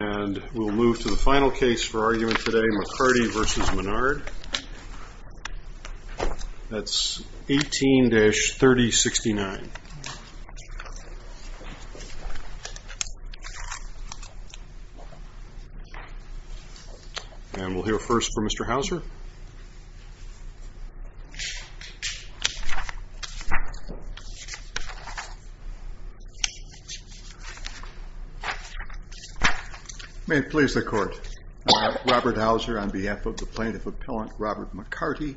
And we'll move to the final case for argument today, McCarty v. Menard. That's 18-3069. And we'll hear first from Mr. Houser. May it please the court. Robert Houser on behalf of the plaintiff appellant, Robert McCarty.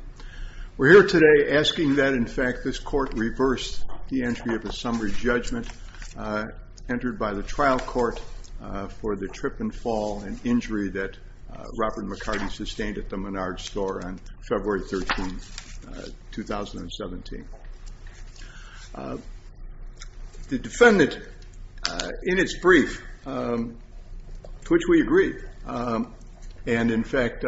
We're here today asking that, in fact, this court reverse the entry of a summary judgment entered by the trial court for the trip and fall and injury that Robert McCarty sustained at the Menard store on February 13th, 2017. The defendant, in its brief, to which we agree, and in fact,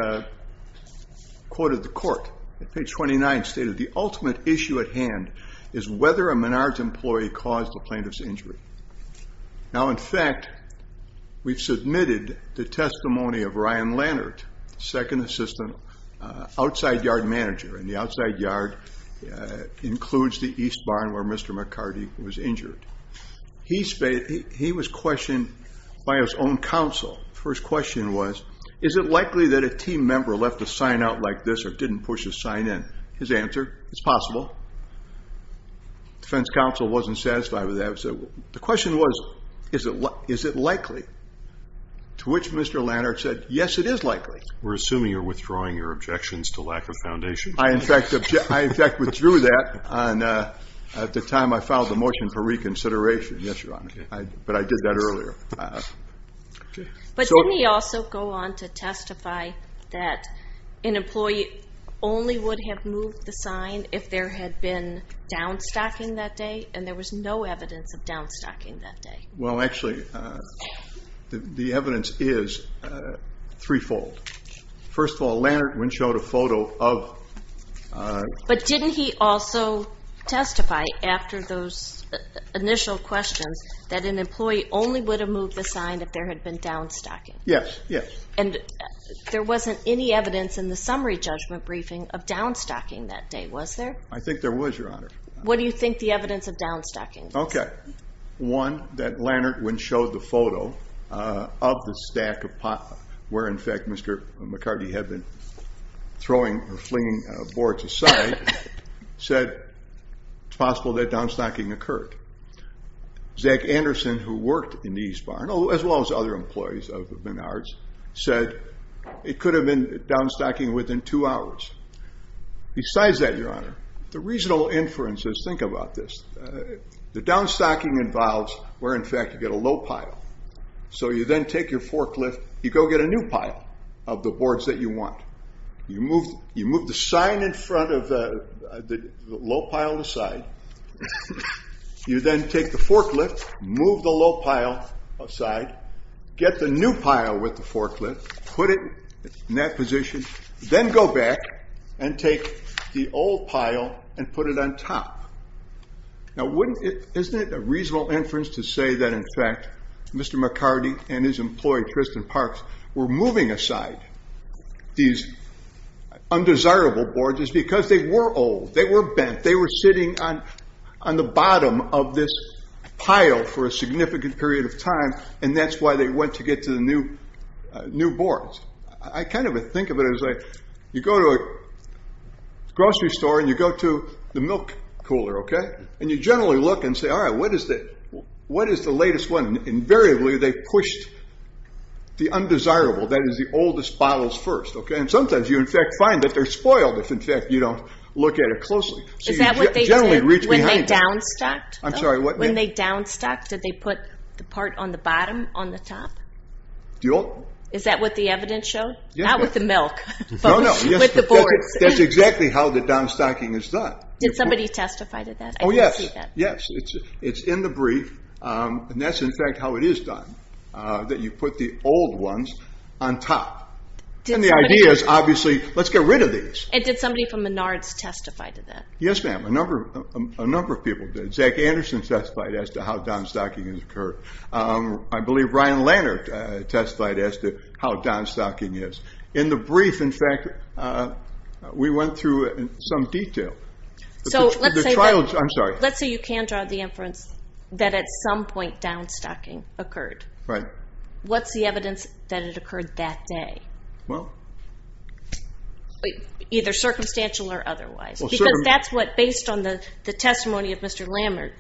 quoted the court at page 29, stated, the ultimate issue at hand is whether a Menard's employee caused the plaintiff's injury. Now, in fact, we've submitted the testimony of Ryan Lannert, second assistant outside yard manager, and the outside yard includes the East Barn where Mr. McCarty was injured. He was questioned by his own counsel. First question was, is it likely that a team member left a sign out like this or didn't push a sign in? His answer, it's possible. Defense counsel wasn't satisfied with that. So the question was, is it likely? To which Mr. Lannert said, yes, it is likely. We're assuming you're withdrawing your objections to lack of foundation. I, in fact, withdrew that at the time I filed the motion for reconsideration. Yes, Your Honor, but I did that earlier. But didn't he also go on to testify that an employee only would have moved the sign if there had been down stocking that day and there was no evidence of down stocking that day? Well, actually, the evidence is threefold. First of all, Lannert went showed a photo of, uh, but didn't he also testify after those initial questions that an employee only would have moved the sign if there had been down stocking? Yes. Yes. And there wasn't any evidence in the summary judgment briefing of down stocking that day. Was there? I think there was, Your Honor. What do you think the evidence of down stocking? Okay. One, that Lannert went showed the photo, uh, of the stack of pot, where in fact, Mr. McCartney had been throwing or flinging boards aside, said it's possible that down stocking occurred. Zach Anderson, who worked in the East Barn, as well as other employees of Menard's, said it could have been down stocking within two hours. Besides that, Your Honor, the reasonable inferences, think about this, uh, the down stocking involves where in fact you get a low pile, so you then take your forklift, you go get a new pile. Of the boards that you want. You move, you move the sign in front of the low pile to the side. You then take the forklift, move the low pile aside, get the new pile with the forklift, put it in that position. Then go back and take the old pile and put it on top. Now, wouldn't it, isn't it a reasonable inference to say that in fact, Mr. McCartney and his employee, Tristan Parks, were moving aside these undesirable boards is because they were old, they were bent, they were sitting on, on the bottom of this pile for a significant period of time, and that's why they went to get to the new, uh, new boards. I kind of think of it as like, you go to a grocery store and you go to the milk cooler, okay, and you generally look and say, all right, what is the, what is the latest one, and invariably they pushed the undesirable, that is the oldest bottles first, okay, and sometimes you in fact find that they're spoiled if in fact you don't look at it closely. Is that what they did when they down-stocked? I'm sorry, what? When they down-stocked, did they put the part on the bottom on the top? Do you all? Is that what the evidence showed? Yeah. Not with the milk, but with the boards. That's exactly how the down-stocking is done. Did somebody testify to that? Oh yes, yes. It's in the brief, um, and that's in fact how it is done, uh, that you put the old ones on top. And the idea is obviously, let's get rid of these. And did somebody from Menards testify to that? Yes, ma'am. A number of, a number of people did. Zach Anderson testified as to how down-stocking has occurred. Um, I believe Brian Lannert testified as to how down-stocking is. In the brief, in fact, uh, we went through it in some detail. So let's say, I'm sorry. Let's say you can draw the inference that at some point down-stocking occurred. Right. What's the evidence that it occurred that day? Well. Either circumstantial or otherwise, because that's what, based on the, the testimony of Mr. Lannert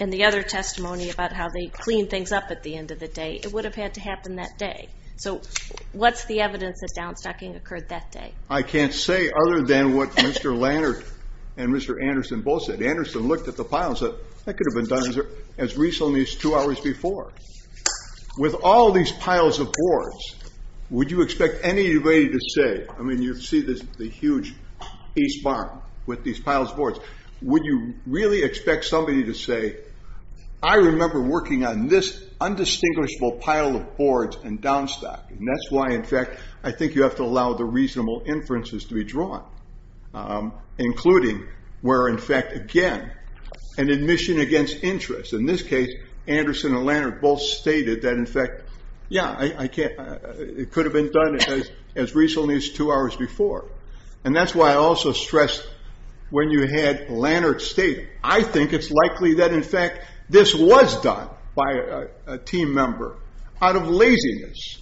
and the other testimony about how they cleaned things up at the end of the day, it would have had to happen that day. So what's the evidence that down-stocking occurred that day? I can't say other than what Mr. Lannert and Mr. Anderson both said. Anderson looked at the piles that could have been done as recently as two hours before. With all these piles of boards, would you expect anybody to say, I mean, you see this, the huge east barn with these piles of boards, would you really expect somebody to say, I remember working on this undistinguishable pile of boards and down-stocking. That's why, in fact, I think you have to allow the reasonable inferences to be an admission against interest. In this case, Anderson and Lannert both stated that in fact, yeah, I can't, it could have been done as recently as two hours before. And that's why I also stressed when you had Lannert state, I think it's likely that in fact, this was done by a team member out of laziness.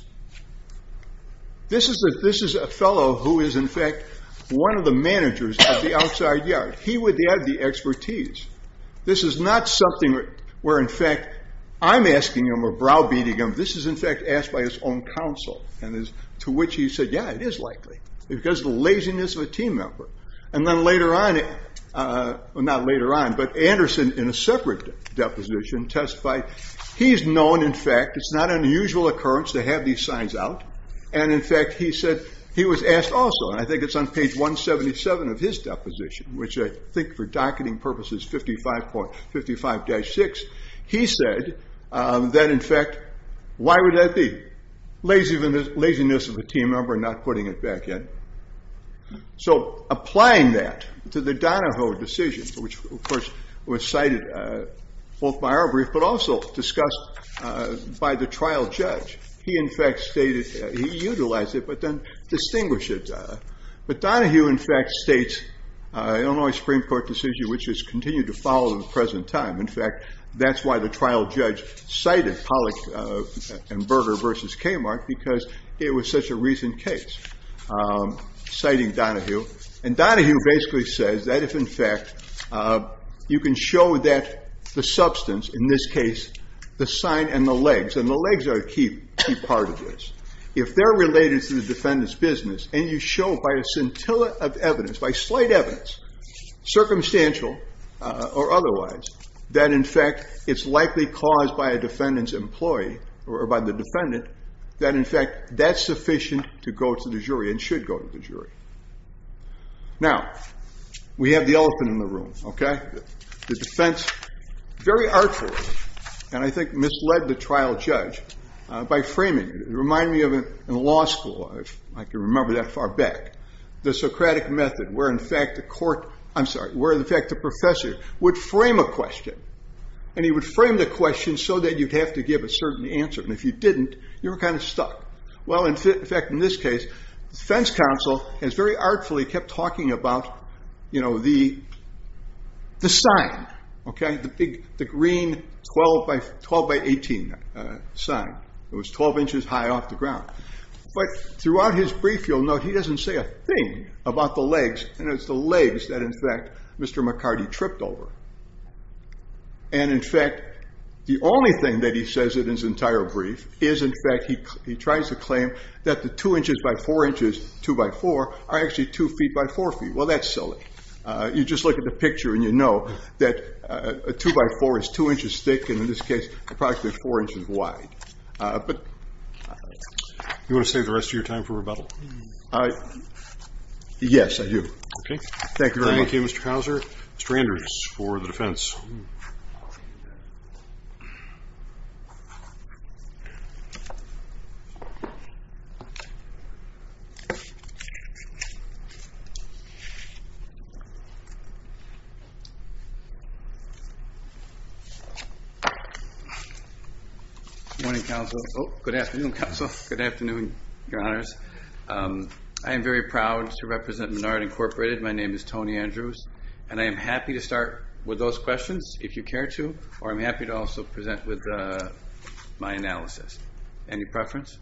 This is a fellow who is in fact, one of the managers at the outside yard. He would have the expertise. This is not something where in fact, I'm asking him or browbeating him. This is in fact, asked by his own counsel and is to which he said, yeah, it is likely because of the laziness of a team member. And then later on, well not later on, but Anderson in a separate deposition testified, he's known in fact, it's not an unusual occurrence to have these signs out. And in fact, he said he was asked also, and I think it's on page 177 of his deposition, which I think for docketing purposes, 55.55-6, he said that in fact, why would that be? Laziness of a team member, not putting it back in. So applying that to the Donahoe decision, which of course was cited both by our brief, but also discussed by the trial judge. He in fact stated, he utilized it, but then distinguished it. But Donahue in fact states, Illinois Supreme court decision, which is continued to follow the present time. In fact, that's why the trial judge cited Pollock and Berger versus Kmart, because it was such a recent case citing Donahue. And Donahue basically says that if in fact, you can show that the substance in this case, the sign and the legs and the legs are a key part of this. If they're related to the defendant's business and you show by a scintilla of evidence, by slight evidence, circumstantial or otherwise, that in fact, it's likely caused by a defendant's employee or by the defendant, that in fact, that's sufficient to go to the jury and should go to the jury. Now we have the elephant in the room. Okay. The defense, very artfully, and I think misled the trial judge by framing, remind me of in law school, if I can remember that far back, the Socratic method, where in fact the court, I'm sorry, where in fact the professor would frame a question and he would frame the question so that you'd have to give a certain answer. And if you didn't, you were kind of stuck. Well, in fact, in this case, the defense counsel has very artfully kept talking about, you know, the sign, okay. The big, the green 12 by 12 by 18 sign. It was 12 inches high off the ground, but throughout his brief, you'll note, he doesn't say a thing about the legs and it's the legs that in fact, Mr. McCarty tripped over. And in fact, the only thing that he says in his entire brief is in fact, he tries to claim that the two inches by four inches, two by four are actually two feet by four feet. Well, that's silly. You just look at the picture and you know that a two by four is two inches thick. And in this case, approximately four inches wide. But you want to save the rest of your time for rebuttal? I, yes, I do. Okay. Thank you very much. Thank you, Mr. Couser. Stranders for the defense. Good morning, counsel. Oh, good afternoon, counsel. Good afternoon, your honors. I am very proud to represent Menard Incorporated. My name is Tony Andrews. And I am happy to start with those questions if you care to, or I'm happy to also present with my analysis. Any preference?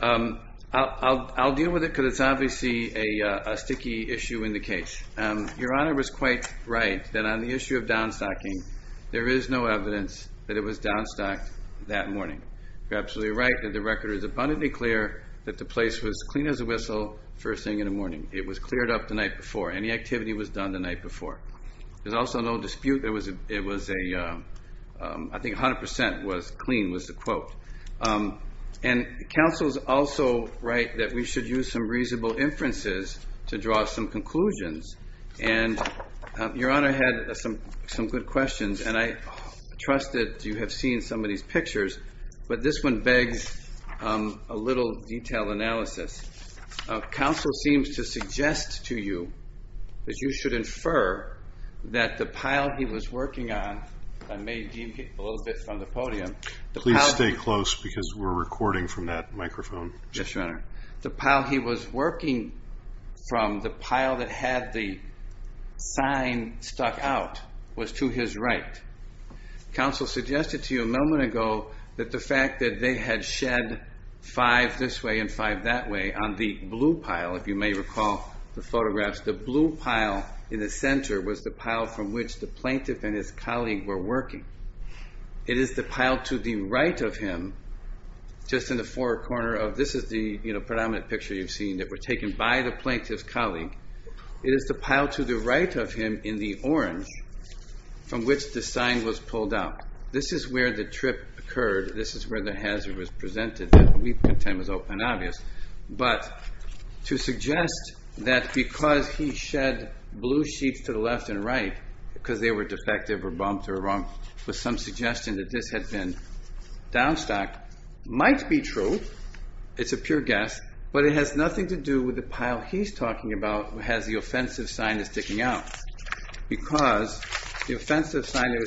I'll deal with it because it's obviously a sticky issue in the cage. Your honor was quite right that on the issue of down stocking, there is no evidence that it was down stocked that morning. You're absolutely right that the record is abundantly clear that the place was clean as a whistle first thing in the morning. It was cleared up the night before. Any activity was done the night before. There's also no dispute. There was a, it was a, I think a hundred percent was clean was the quote. And counsel's also right that we should use some reasonable inferences to draw some conclusions. And your honor had some, some good questions and I trust that you have seen some of these pictures, but this one begs a little detail analysis. Counsel seems to suggest to you that you should infer that the pile he was working on, if I may deem him a little bit from the podium. Please stay close because we're recording from that microphone. Yes, your honor. The pile he was working from, the pile that had the sign stuck out was to his right. Counsel suggested to you a moment ago that the fact that they had shed five this way and five that way on the blue pile, if you may recall the photographs, the blue pile in the center was the pile from which the plaintiff and his colleague were working. It is the pile to the right of him, just in the four corner of this is the, you know, predominant picture you've seen that were taken by the plaintiff's colleague, it is the pile to the right of him in the orange from which the sign was pulled out. This is where the trip occurred. This is where the hazard was presented that we pretend was open and obvious, but to suggest that because he shed blue sheets to the left and right, because they were defective or bumped or wrong with some suggestion that this had been down stock might be true. It's a pure guess, but it has nothing to do with the pile he's talking about. It has the offensive sign that's sticking out because the offensive sign that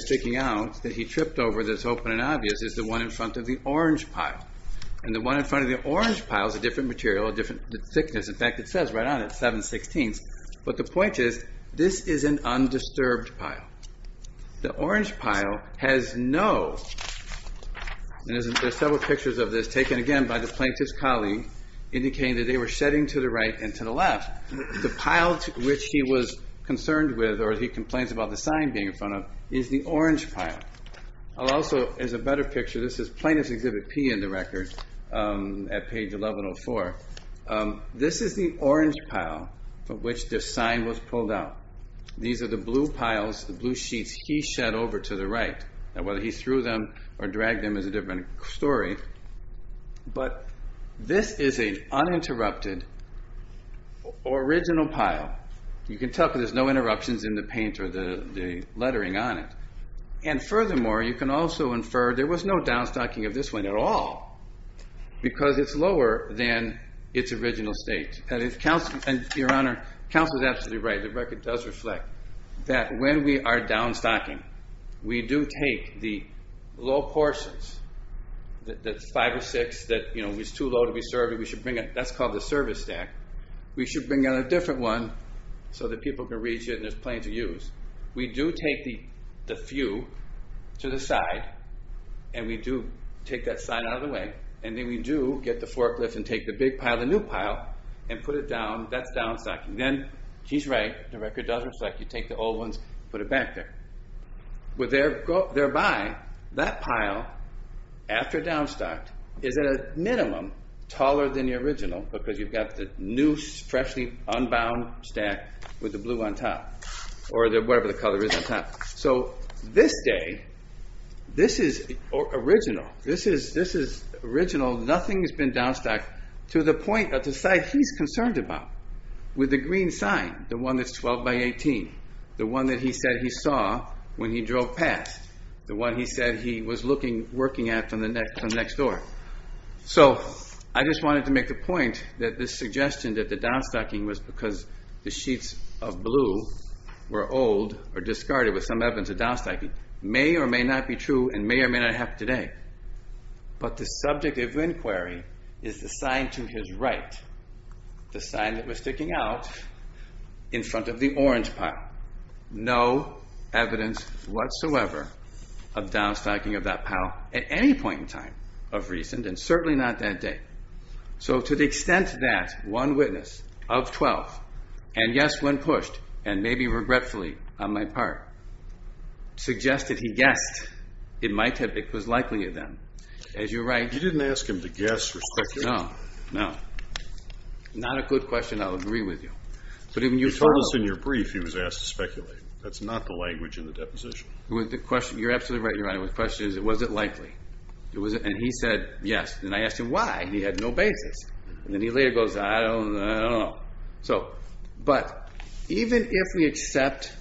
was open and obvious is the one in front of the orange pile and the one in front of the orange pile is a different material, a different thickness. In fact, it says right on it, seven sixteenths, but the point is this is an undisturbed pile. The orange pile has no, and there's several pictures of this taken again by the plaintiff's colleague indicating that they were shedding to the right and to the left, the pile to which he was concerned with, or he complains about the sign being in front of is the orange pile. I'll also, as a better picture, this is Plaintiff's Exhibit P in the record at page 1104. This is the orange pile from which the sign was pulled out. These are the blue piles, the blue sheets he shed over to the right, and whether he threw them or dragged them is a different story, but this is an uninterrupted original pile. You can tell because there's no interruptions in the paint or the lettering on it, and furthermore, you can also infer there was no down stocking of this one at all, because it's lower than its original state, and your honor, counsel is absolutely right, the record does reflect that when we are down stocking, we do take the low portions, that's five or six that was too low to be served, we should bring it, that's called the service stack, we should bring in a different one so that people can reach it and it's plain to use. We do take the few to the side, and we do take that sign out of the way, and then we do get the forklift and take the big pile, the new pile, and put it down, that's down stocking. Then he's right, the record does reflect, you take the old ones, put it back there, but thereby, that pile, after down stocked, is at a minimum taller than the original because you've got the new freshly unbound stack with the blue on top, or whatever the color is on top. So this day, this is original, this is original, nothing has been down stocked to the point, to the side he's concerned about, with the green sign, the one that's 12 by 18, the one that he said he saw when he drove past, the one he said he was looking, working at from the next door. So I just wanted to make the point that this suggestion that the down stocking was because the sheets of blue were old, or discarded with some evidence of down stocking, may or may not be true, and may or may not happen today. But the subject of inquiry is the sign to his right, the sign that was sticking out in front of the orange pile, no evidence whatsoever of down stocking of that pile at any point in time of reason, and certainly not that day. So to the extent that one witness of 12, and yes, when pushed, and maybe regretfully on my part, suggested he guessed, it might have, it was likely of them, as you're right. You didn't ask him to guess or speculate? No, no. Not a good question, I'll agree with you. But even you follow... You told us in your brief he was asked to speculate. That's not the language in the deposition. With the question, you're absolutely right, Your Honor. The question is, was it likely? It was, and he said, yes. And I asked him why, and he had no basis. And then he later goes, I don't know. So, but even if we accept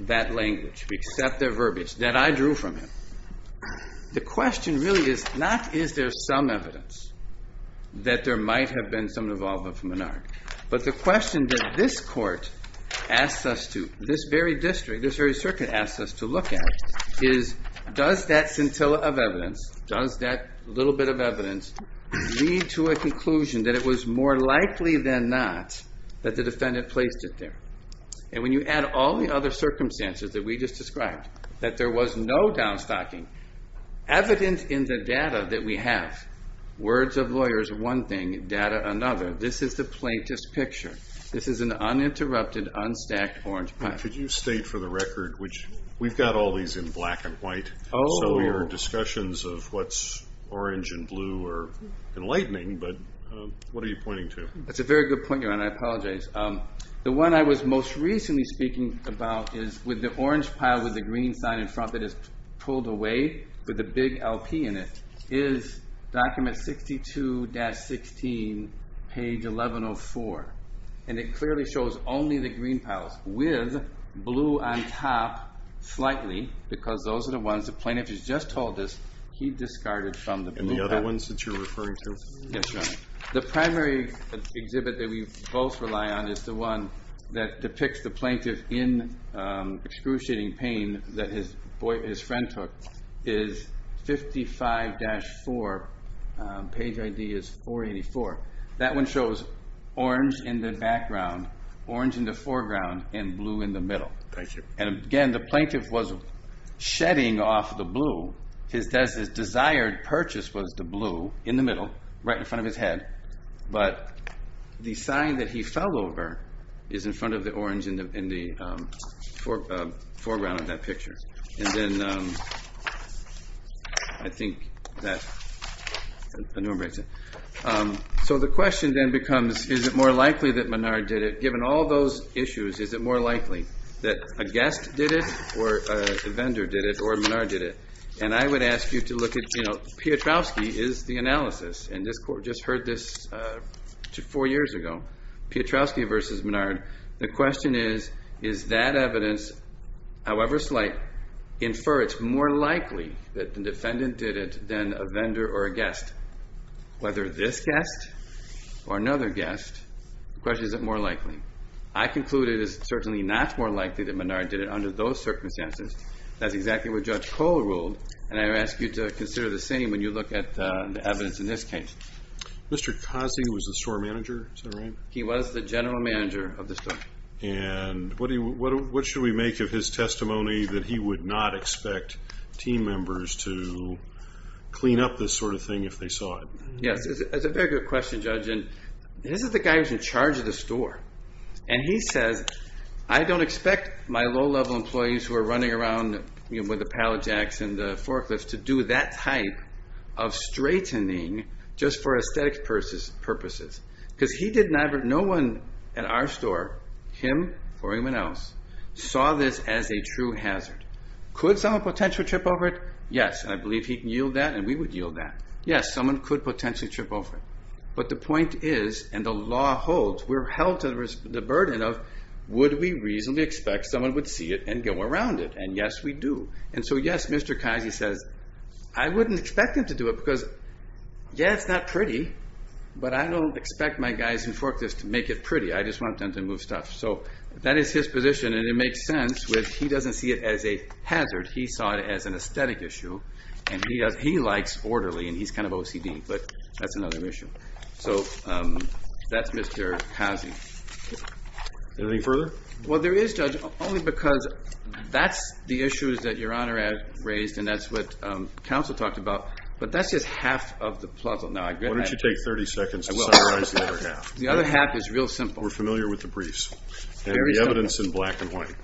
that language, we accept their verbiage that I drew from him, the question really is not, is there some evidence that there might have been some involvement from Menard? But the question that this court asks us to, this very district, this very circuit asks us to look at, is does that scintilla of evidence, does that little bit of evidence lead to a conclusion that it was more likely than not that the defendant placed it there? And when you add all the other circumstances that we just described, that there was no downstocking, evident in the data that we have, words of lawyers, one thing, data, another, this is the plaintiff's picture. This is an uninterrupted, unstacked orange pipe. Could you state for the record, which we've got all these in black and white. So your discussions of what's orange and blue are enlightening, but what are you pointing to? That's a very good point, Your Honor. I apologize. The one I was most recently speaking about is with the orange pile with the green sign in front that is pulled away, with the big LP in it, is document 62-16, page 1104. And it clearly shows only the green piles, with blue on top slightly, because those are the ones the plaintiff has just told us he discarded from the blue pile. And the other ones that you're referring to? Yes, Your Honor. The primary exhibit that we both rely on is the one that depicts the plaintiff in excruciating pain that his friend took, is 55-4, page ID is 484. That one shows orange in the background, orange in the foreground, and blue in the middle. Thank you. And again, the plaintiff was shedding off the blue. His desired purchase was the blue in the middle, right in front of his head. But the sign that he fell over is in front of the orange in the foreground of that picture. And then I think that enumerates it. So the question then becomes, is it more likely that Menard did it? A guest did it, or a vendor did it, or Menard did it? And I would ask you to look at, you know, Piotrowski is the analysis. And this court just heard this four years ago, Piotrowski versus Menard. The question is, is that evidence, however slight, infer it's more likely that the defendant did it than a vendor or a guest? Whether this guest or another guest, the question is, is it more likely? I conclude it is certainly not more likely that Menard did it under those circumstances. That's exactly what Judge Kohl ruled. And I ask you to consider the same when you look at the evidence in this case. Mr. Cozzi was the store manager, is that right? He was the general manager of the store. And what should we make of his testimony that he would not expect team members to clean up this sort of thing if they saw it? Yes, it's a very good question, Judge. And this is the guy who's in charge of the store. And he says, I don't expect my low-level employees who are running around with the pallet jacks and the forklifts to do that type of straightening just for aesthetic purposes. Because no one at our store, him or anyone else, saw this as a true hazard. Could someone potentially trip over it? Yes. I believe he can yield that and we would yield that. Yes, someone could potentially trip over it. But the point is, and the law holds, we're held to the burden of, would we reasonably expect someone would see it and go around it? And yes, we do. And so, yes, Mr. Cozzi says, I wouldn't expect him to do it because, yeah, it's not pretty, but I don't expect my guys who forklift to make it pretty. I just want them to move stuff. So that is his position. And it makes sense when he doesn't see it as a hazard. He saw it as an aesthetic issue. And he likes orderly and he's kind of OCD, but that's another issue. So that's Mr. Cozzi. Anything further? Well, there is, Judge, only because that's the issues that Your Honor raised. And that's what counsel talked about, but that's just half of the puzzle. Now, I get that. Why don't you take 30 seconds to summarize the other half? The other half is real simple. We're familiar with the briefs and the evidence in black and white.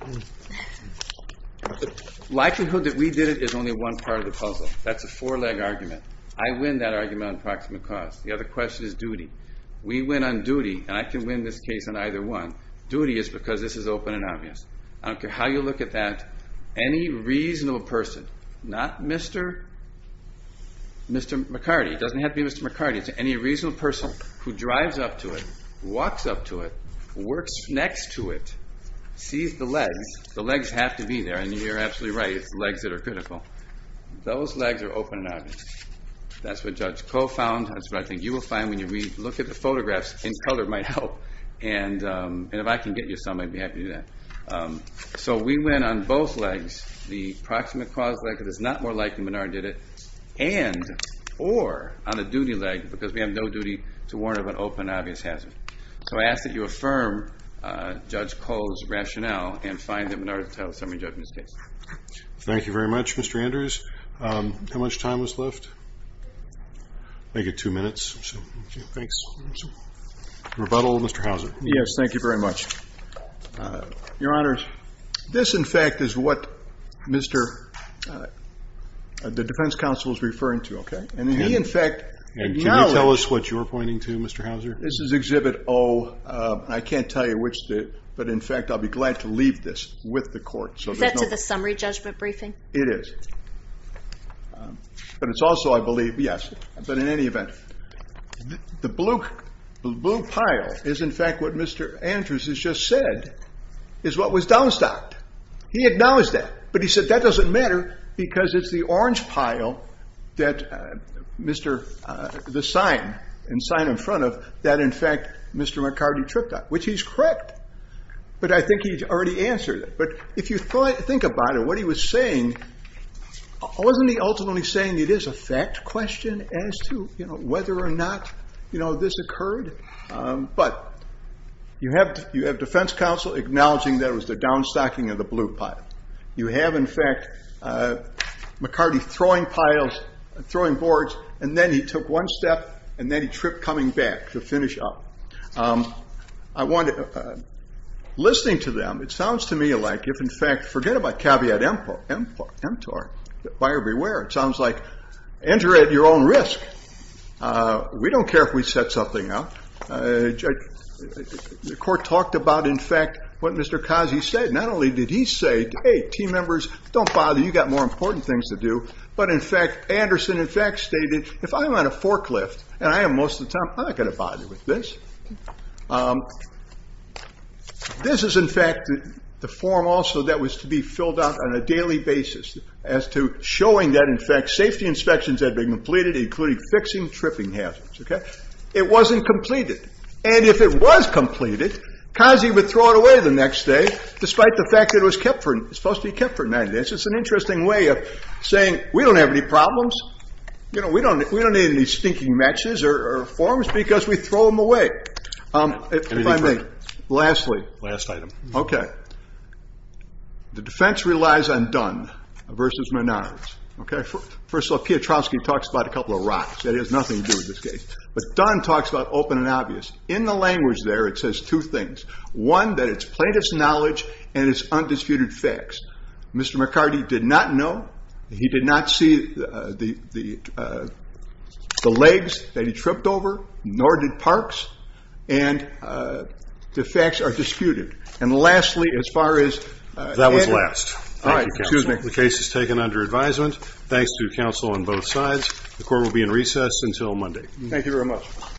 Likelihood that we did it is only one part of the puzzle. That's a four leg argument. I win that argument on proximate cause. The other question is duty. We win on duty and I can win this case on either one. Duty is because this is open and obvious. I don't care how you look at that. Any reasonable person, not Mr. Mr. McCarty. It doesn't have to be Mr. McCarty to any reasonable person who drives up to it, walks up to it, works next to it, sees the legs, the legs have to be there. And you're absolutely right. It's legs that are critical. Those legs are open and obvious. That's what Judge Coe found. That's what I think you will find when you read, look at the photographs in color might help. And, and if I can get you some, I'd be happy to do that. So we went on both legs, the proximate cause leg that is not more likely Menard did it and, or on a duty leg, because we have no duty to warn of an open, obvious hazard. So I ask that you affirm Judge Coe's rationale and find that Menard to tell the summary judgment of this case. Thank you very much, Mr. Andrews. How much time was left? I get two minutes. So, okay. Thanks. Rebuttal, Mr. Hauser. Yes. Thank you very much. Your honors. This in fact is what Mr. the defense counsel is referring to. Okay. And he, in fact, and can you tell us what you're pointing to Mr. Hauser? This is exhibit O. I can't tell you which, but in fact, I'll be glad to leave this with the court. So is that to the summary judgment briefing? It is. But it's also, I believe, yes, but in any event, the blue, the blue pile is in fact, what Mr. Andrews has just said is what was downstocked. He acknowledged that, but he said that doesn't matter because it's the orange pile that Mr. the sign and sign in front of that. In fact, Mr. McCarty tripped up, which he's correct, but I think he's already answered it. But if you think about it, what he was saying, wasn't he ultimately saying it is a fact question as to whether or not this occurred, but you have defense counsel acknowledging that it was the downstocking of the blue pile. You have, in fact, McCarty throwing piles, throwing boards, and then he took one step and then he tripped coming back to finish up. I want to, listening to them, it sounds to me like if in fact, forget about caveat emptor, buyer beware. It sounds like enter at your own risk. We don't care if we set something up, the court talked about, in fact, what Mr. Kazi said, not only did he say, Hey, team members don't bother. You got more important things to do. But in fact, Anderson in fact stated, if I'm on a forklift and I am most of the time, I'm not going to bother with this. This is in fact, the form also that was to be filled out on a daily basis as to showing that in fact, safety inspections had been completed, including fixing tripping hazards. Okay. It wasn't completed. And if it was completed, Kazi would throw it away the next day, despite the fact that it was supposed to be kept for 90 days. It's an interesting way of saying, we don't have any problems. You know, we don't, we don't need any stinking matches or forms because we throw them away. If I may, lastly, last item. Okay. The defense relies on Dunn versus Menards. Okay. First of all, Piotrowski talks about a couple of rocks. That has nothing to do with this case, but Dunn talks about open and obvious. In the language there, it says two things. One, that it's plaintiff's knowledge and it's undisputed facts. Mr. McCarty did not know. He did not see the legs that he tripped over, nor did Parks. And the facts are disputed. And lastly, as far as... That was last. All right. Excuse me. The case is taken under advisement. Thanks to counsel on both sides. The court will be in recess until Monday. Thank you very much.